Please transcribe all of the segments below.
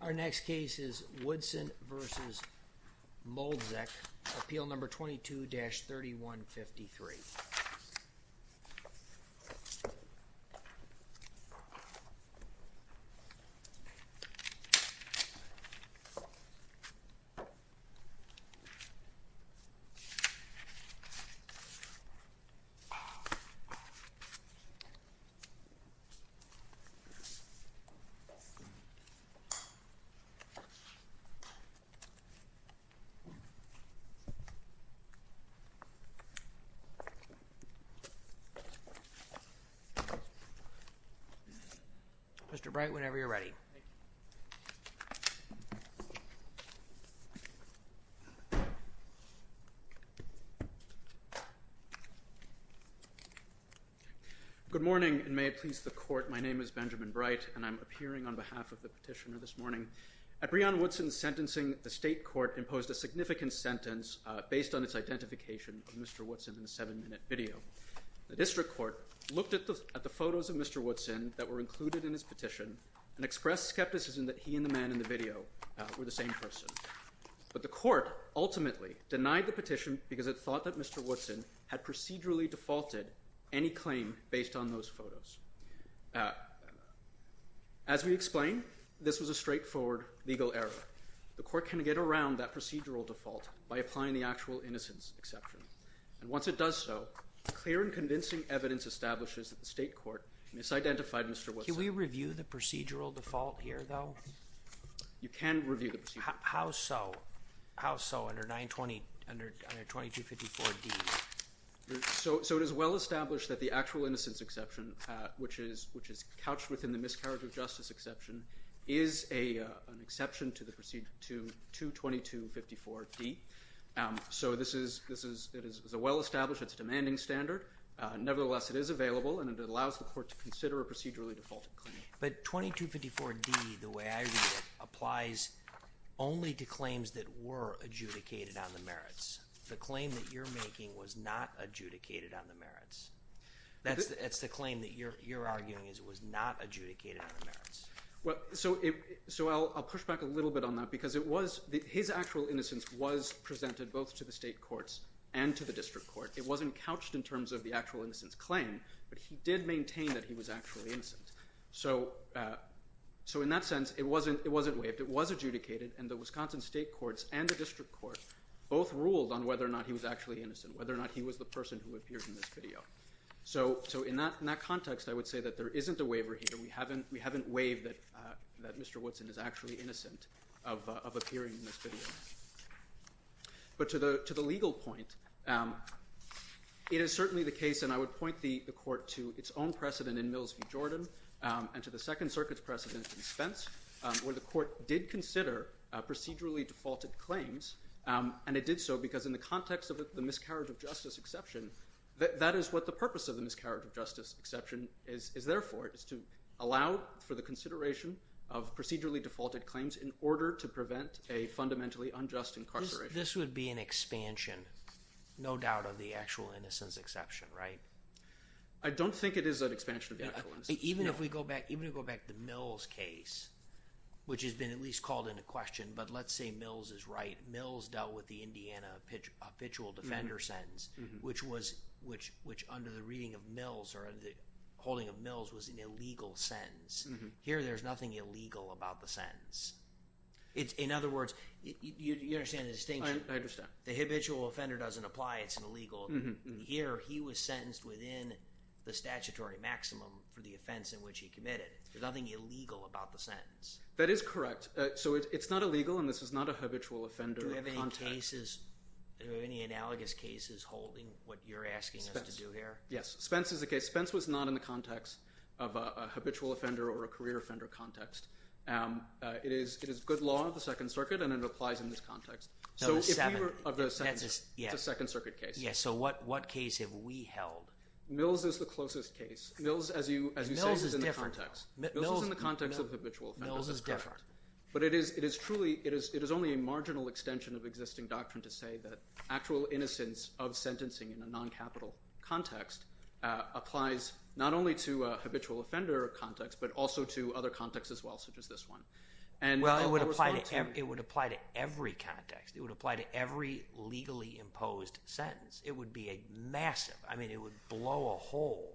Our next case is Woodson v. Mlodzik, appeal number 22-3153. Mr. Bright, whenever you're ready. Good morning, and may it please the Court, my name is Benjamin Bright, and I'm appearing on behalf of the petitioner this morning. At Breion Woodson's sentencing, the state court imposed a significant sentence based on its identification of Mr. Woodson in a seven-minute video. The district court looked at the photos of Mr. Woodson that were included in his petition and expressed skepticism that he and the man in the video were the same person, but the court ultimately denied the petition because it thought that Mr. Woodson had procedurally defaulted any claim based on those photos. As we explained, this was a straightforward legal error. The court can get around that procedural default by applying the actual innocence exception, and once it does so, clear and convincing evidence establishes that the state court misidentified Mr. Woodson. Can we review the procedural default here, though? You can review the procedural default. How so? How so under 920, under 2254D? So it is well established that the actual innocence exception, which is couched within the miscarriage of justice exception, is an exception to 2254D. So this is a well-established, it's a demanding standard. Nevertheless, it is available, and it allows the court to consider a procedurally defaulted But 2254D, the way I read it, applies only to claims that were adjudicated on the merits. The claim that you're making was not adjudicated on the merits. That's the claim that you're arguing is it was not adjudicated on the merits. So I'll push back a little bit on that because it was, his actual innocence was presented both to the state courts and to the district court. It wasn't couched in terms of the actual innocence claim, but he did maintain that he was actually innocent. So in that sense, it wasn't waived, it was adjudicated, and the Wisconsin state courts and the district court both ruled on whether or not he was actually innocent, whether or not he was the person who appears in this video. So in that context, I would say that there isn't a waiver here. We haven't waived that Mr. Woodson is actually innocent of appearing in this video. But to the legal point, it is certainly the case, and I would point the court to its own precedent in Mills v. Jordan, and to the Second Circuit's precedent in Spence, where the And it did so because in the context of the miscarriage of justice exception, that is what the purpose of the miscarriage of justice exception is there for, is to allow for the consideration of procedurally defaulted claims in order to prevent a fundamentally unjust incarceration. This would be an expansion, no doubt, of the actual innocence exception, right? I don't think it is an expansion of the actual innocence. Even if we go back to the Mills case, which has been at least called into question, but let's say Mills is right. Mills dealt with the Indiana habitual offender sentence, which under the reading of Mills or under the holding of Mills was an illegal sentence. Here there's nothing illegal about the sentence. In other words, you understand the distinction? I understand. The habitual offender doesn't apply, it's an illegal. Here he was sentenced within the statutory maximum for the offense in which he committed. There's nothing illegal about the sentence. That is correct. It's not illegal and this is not a habitual offender context. Do we have any analogous cases holding what you're asking us to do here? Yes. Spence is a case. Spence was not in the context of a habitual offender or a career offender context. It is good law of the Second Circuit and it applies in this context. So if we were of the Second Circuit case. So what case have we held? Mills is the closest case. Mills as you say is in the context. Mills is different. Mills is in the context of habitual offenders. Mills is different. But it is truly, it is only a marginal extension of existing doctrine to say that actual innocence of sentencing in a non-capital context applies not only to a habitual offender context but also to other contexts as well such as this one. It would apply to every context. It would apply to every legally imposed sentence. It would be a massive, I mean it would blow a hole.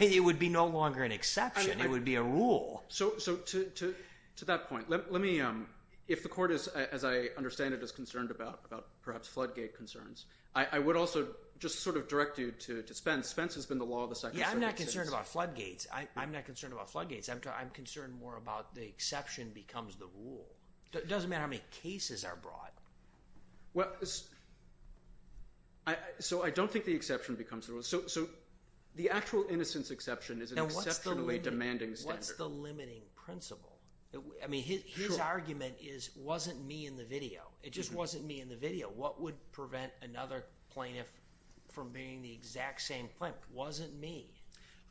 It would be no longer an exception, it would be a rule. So to that point, let me, if the court as I understand it is concerned about perhaps floodgate concerns, I would also just sort of direct you to Spence. Spence has been the law of the Second Circuit since. Yeah, I'm not concerned about floodgates. I'm not concerned about floodgates. I'm concerned more about the exception becomes the rule. It doesn't matter how many cases are brought. So I don't think the exception becomes the rule. So the actual innocence exception is an exceptionally demanding standard. What's the limiting principle? I mean his argument is it wasn't me in the video. It just wasn't me in the video. What would prevent another plaintiff from being the exact same plaintiff? Wasn't me.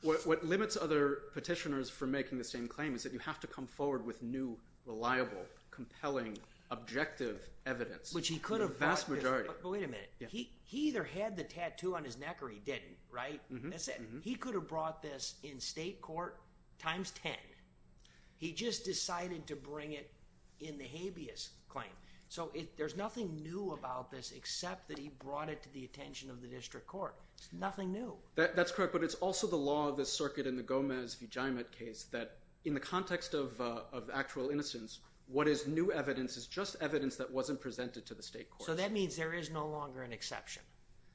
What limits other petitioners from making the same claim is that you have to come forward with new, reliable, compelling, objective evidence. Which he could have brought. The vast majority. But wait a minute. He either had the tattoo on his neck or he didn't, right? That's it. He could have brought this in state court times 10. He just decided to bring it in the habeas claim. So there's nothing new about this except that he brought it to the attention of the district court. Nothing new. That's correct. But it's also the law of the circuit in the Gomez-Vigiamet case that in the context of actual innocence, what is new evidence is just evidence that wasn't presented to the state court. So that means there is no longer an exception.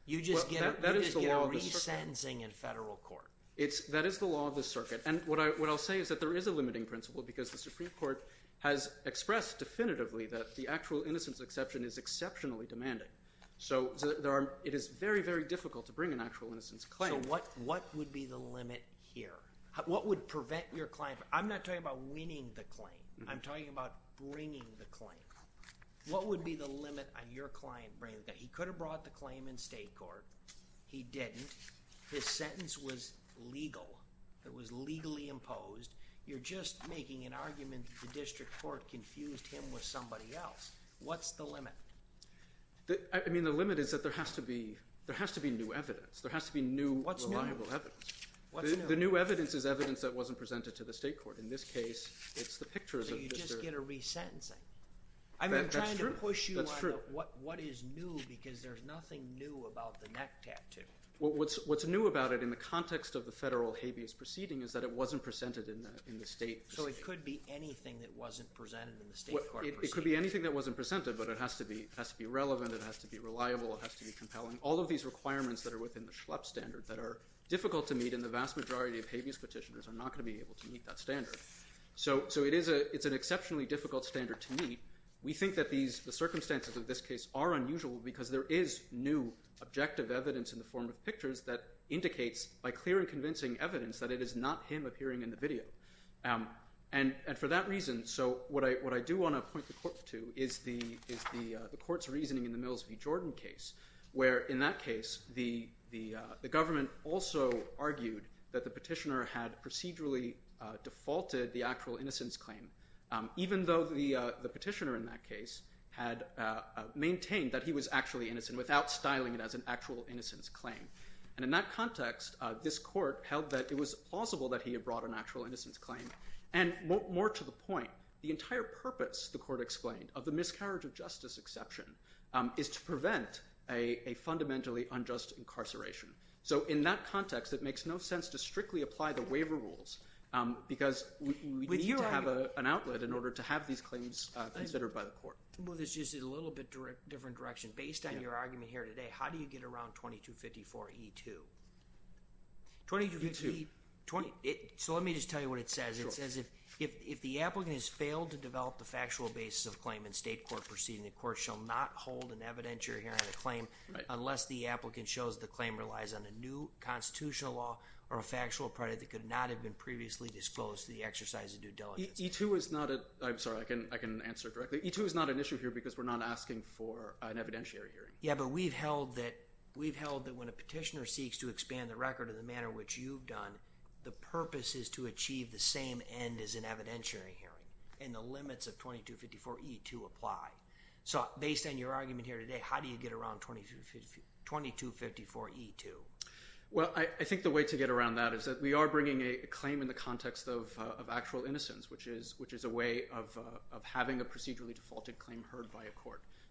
You just get a re-sentencing in federal court. That is the law of the circuit. And what I'll say is that there is a limiting principle because the Supreme Court has expressed definitively that the actual innocence exception is exceptionally demanding. So it is very, very difficult to bring an actual innocence claim. So what would be the limit here? What would prevent your client? I'm not talking about winning the claim. I'm talking about bringing the claim. What would be the limit on your client bringing the claim? He could have brought the claim in state court. He didn't. His sentence was legal. It was legally imposed. You're just making an argument that the district court confused him with somebody else. What's the limit? I mean, the limit is that there has to be new evidence. There has to be new reliable evidence. The new evidence is evidence that wasn't presented to the state court. In this case, it's the pictures of the district. So you just get a re-sentencing. That's true. That's true. I'm trying to push you on what is new because there's nothing new about the neck tattoo. What's new about it in the context of the federal habeas proceeding is that it wasn't presented in the state. So it could be anything that wasn't presented in the state court proceeding. It could be anything that wasn't presented, but it has to be relevant, it has to be reliable, it has to be compelling. All of these requirements that are within the Schlepp standard that are difficult to meet and the vast majority of habeas petitioners are not going to be able to meet that standard. So it's an exceptionally difficult standard to meet. We think that the circumstances of this case are unusual because there is new objective evidence in the form of pictures that indicates by clear and convincing evidence that it is not him appearing in the video. And for that reason, so what I do want to point the court to is the court's reasoning in the Mills v. Jordan case where in that case the government also argued that the petitioner had procedurally defaulted the actual innocence claim. Even though the petitioner in that case had maintained that he was actually innocent without styling it as an actual innocence claim. And in that context, this court held that it was plausible that he had brought an actual innocence claim. And more to the point, the entire purpose, the court explained, of the miscarriage of justice exception is to prevent a fundamentally unjust incarceration. So in that context, it makes no sense to strictly apply the waiver rules because we need to have an outlet in order to have these claims considered by the court. Well, this is just a little bit different direction. Based on your argument here today, how do you get around 2254E2? 2254E2. So let me just tell you what it says. It says if the applicant has failed to develop the factual basis of claim in state court proceeding, the court shall not hold an evidentiary hearing on the claim unless the applicant shows the claim relies on a new constitutional law or a factual credit that could not have been previously disclosed to the exercise of due diligence. E2 is not an issue here because we're not asking for an evidentiary hearing. Yeah, but we've held that when a petitioner seeks to expand the record in the manner which you've done, the purpose is to achieve the same end as an evidentiary hearing. And the limits of 2254E2 apply. So based on your argument here today, how do you get around 2254E2? Well, I think the way to get around that is that we are bringing a claim in the context of actual innocence, which is a way of having a procedurally defaulted claim heard by a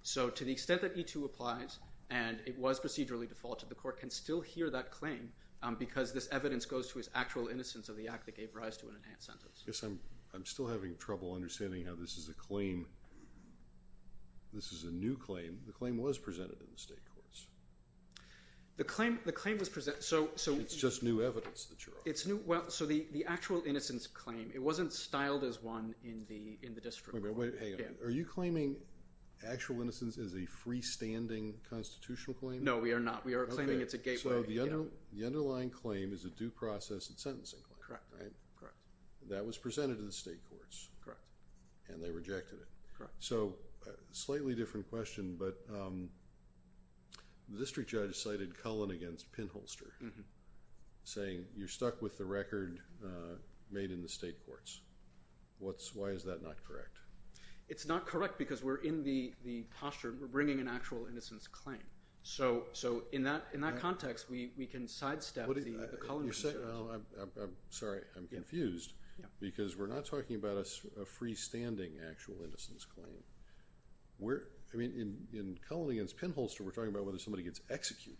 So to the extent that E2 applies and it was procedurally defaulted, the court can still hear that claim because this evidence goes to its actual innocence of the act that gave rise to an enhanced sentence. I guess I'm still having trouble understanding how this is a claim, this is a new claim. The claim was presented in the state courts. The claim was presented, so... It's just new evidence that you're on. It's new, well, so the actual innocence claim, it wasn't styled as one in the district. Wait a minute, hang on. Are you claiming actual innocence is a freestanding constitutional claim? No, we are not. We are claiming it's a gateway. Okay, so the underlying claim is a due process and sentencing claim, right? That was presented to the state courts. Correct. And they rejected it. Correct. So, slightly different question, but the district judge cited Cullen against Pinholster saying you're stuck with the record made in the state courts. Why is that not correct? It's not correct because we're in the posture, we're bringing an actual innocence claim. So, in that context, we can sidestep the Cullen... Sorry, I'm confused because we're not talking about a freestanding actual innocence claim. I mean, in Cullen against Pinholster, we're talking about whether somebody gets executed,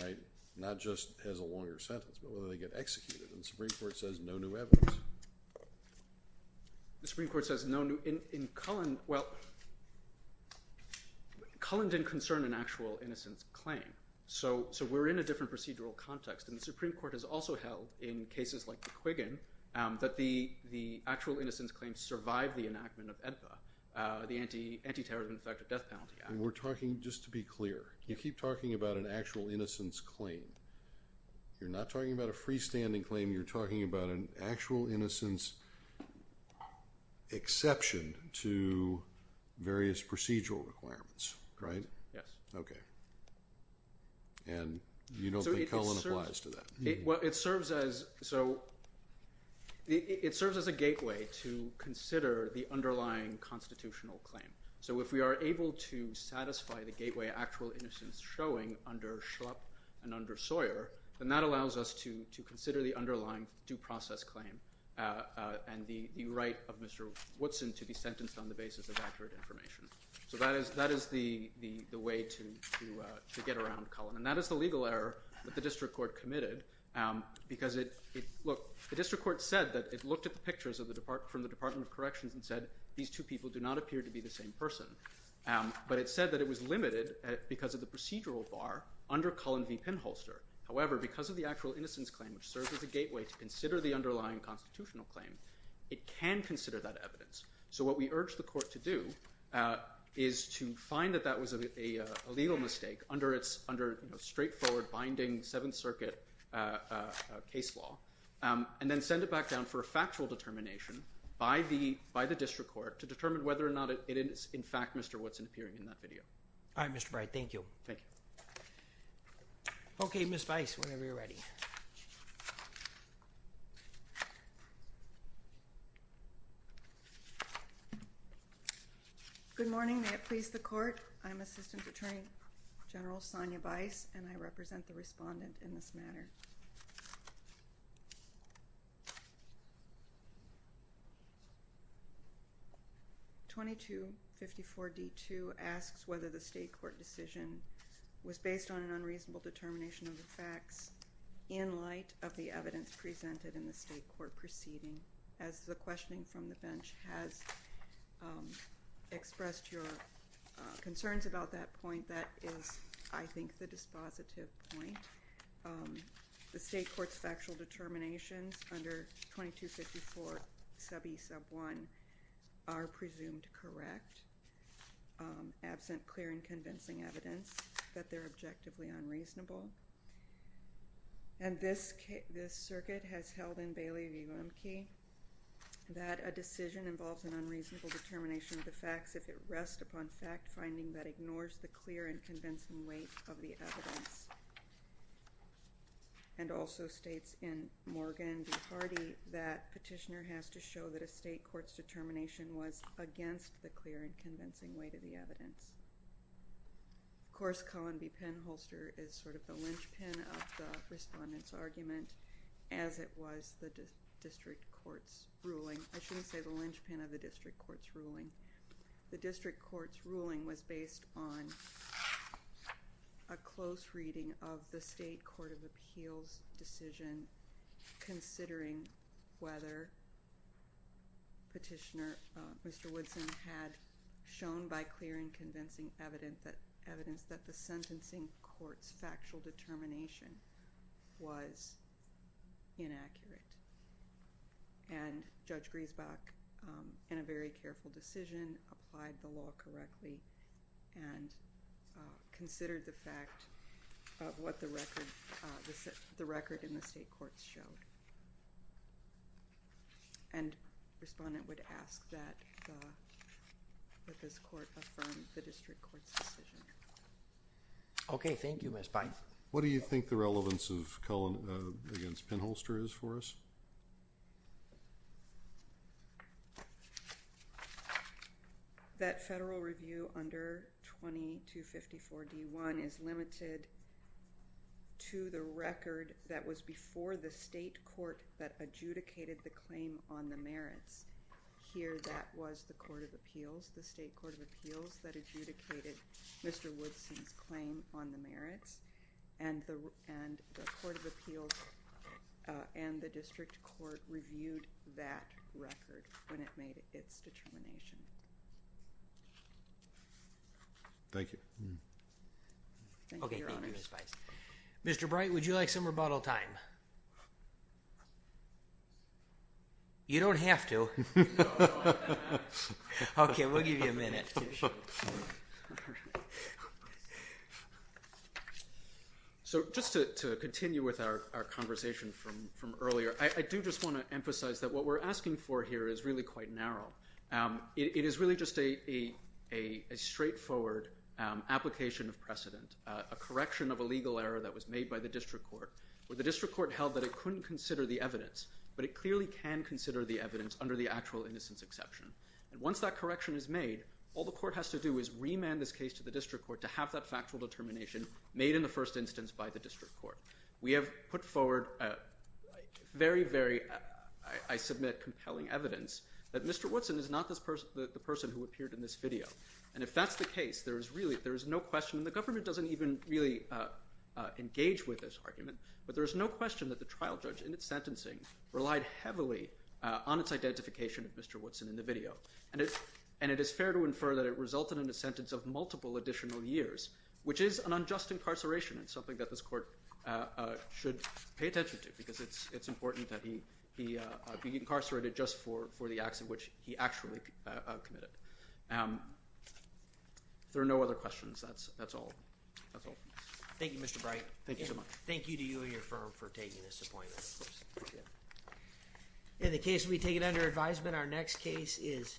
right? Not just as a longer sentence, but whether they get executed. And the Supreme Court says no new evidence. The Supreme Court says no new... In Cullen, well, Cullen didn't concern an actual innocence claim. So, we're in a different procedural context. And the Supreme Court has also held, in cases like the Quiggin, that the actual innocence claim survived the enactment of AEDPA, the Anti-Terrorism Effective Death Penalty Act. And we're talking, just to be clear, you keep talking about an actual innocence claim. You're not talking about a freestanding claim. You're talking about an actual innocence exception to various procedural requirements, right? Yes. Okay. And you don't think Cullen applies to that? Well, it serves as a gateway to consider the underlying constitutional claim. So, if we are able to satisfy the gateway actual innocence showing under Schrupp and under Sawyer, then that allows us to consider the underlying due process claim and the right of Mr. Woodson to be sentenced on the basis of accurate information. So, that is the way to get around Cullen. And that is the legal error that the district court committed. Because, look, the district court said that it looked at the pictures from the Department of Corrections and said these two people do not appear to be the same person. But it said that it was limited because of the procedural bar under Cullen v. Penholster. However, because of the actual innocence claim, which serves as a gateway to consider the underlying constitutional claim, it can consider that evidence. So, what we urge the court to do is to find that that was a legal mistake under straightforward binding Seventh Circuit case law and then send it back down for a factual determination by the district court to determine whether or not it is, in fact, Mr. Woodson appearing in that video. All right, Mr. Bright. Thank you. Thank you. Okay, Ms. Weiss, whenever you're ready. Good morning. May it please the court. I'm Assistant Attorney General Sonia Weiss, and I represent the respondent in this matter. 2254D2 asks whether the state court decision was based on an unreasonable determination of the facts in light of the evidence presented in the state court proceeding, as the questioning from the bench has expressed your concerns about that point. That is, I think, the dispositive point. The state court's factual determinations under 2254E1 are presumed correct, absent clear and convincing evidence that they're objectively unreasonable. And this circuit has held in Bailey v. Lemke that a decision involves an unreasonable determination of the facts if it rests upon fact-finding that ignores the clear and convincing weight of the evidence. And also states in Morgan v. Hardy that petitioner has to show that a state court's determination was against the clear and convincing weight of the evidence. Of course, Cullen v. Penholster is sort of the linchpin of the respondent's argument, as it was the district court's ruling. I shouldn't say the linchpin of the district court's ruling. The district court's ruling was based on a close reading of the state court of appeals decision considering whether petitioner, Mr. Woodson, had shown by clear and convincing evidence that the sentencing court's factual determination was inaccurate. And Judge Griesbach, in a very careful decision, applied the law correctly and considered the fact of what the record in the state courts showed. And the respondent would ask that this court affirm the district court's decision. Okay. Thank you, Ms. Pines. What do you think the relevance of Cullen v. Penholster is for us? That federal review under 2254 D1 is limited to the record that was before the state court that adjudicated the claim on the merits. Here, that was the court of appeals, the state court of appeals, that adjudicated Mr. Woodson's claim on the merits. And the court of appeals and the district court reviewed that record when it made its determination. Thank you. Okay, thank you, Ms. Pines. Mr. Bright, would you like some rebuttal time? You don't have to. Okay, we'll give you a minute. So just to continue with our conversation from earlier, I do just want to emphasize that what we're asking for here is really quite narrow. It is really just a straightforward application of precedent, a correction of a legal error that was made by the district court, where the district court held that it couldn't consider the evidence, but it clearly can consider the evidence under the actual innocence exception. And once that correction is made, all the court has to do is remand this case to the district court to have that factual determination made in the first instance by the district court. We have put forward very, very, I submit, compelling evidence that Mr. Woodson is not the person who appeared in this video. And if that's the case, there is no question, and the government doesn't even really engage with this argument, but there is no question that the trial judge, in its sentencing, relied heavily on its identification of Mr. Woodson in the video. And it is fair to infer that it resulted in a sentence of multiple additional years, which is an unjust incarceration. It's something that this court should pay attention to because it's important that he be incarcerated just for the acts in which he actually committed. If there are no other questions, that's all. Thank you, Mr. Bright. Thank you so much. Thank you to you and your firm for taking this appointment. And the case will be taken under advisement. Our next case is...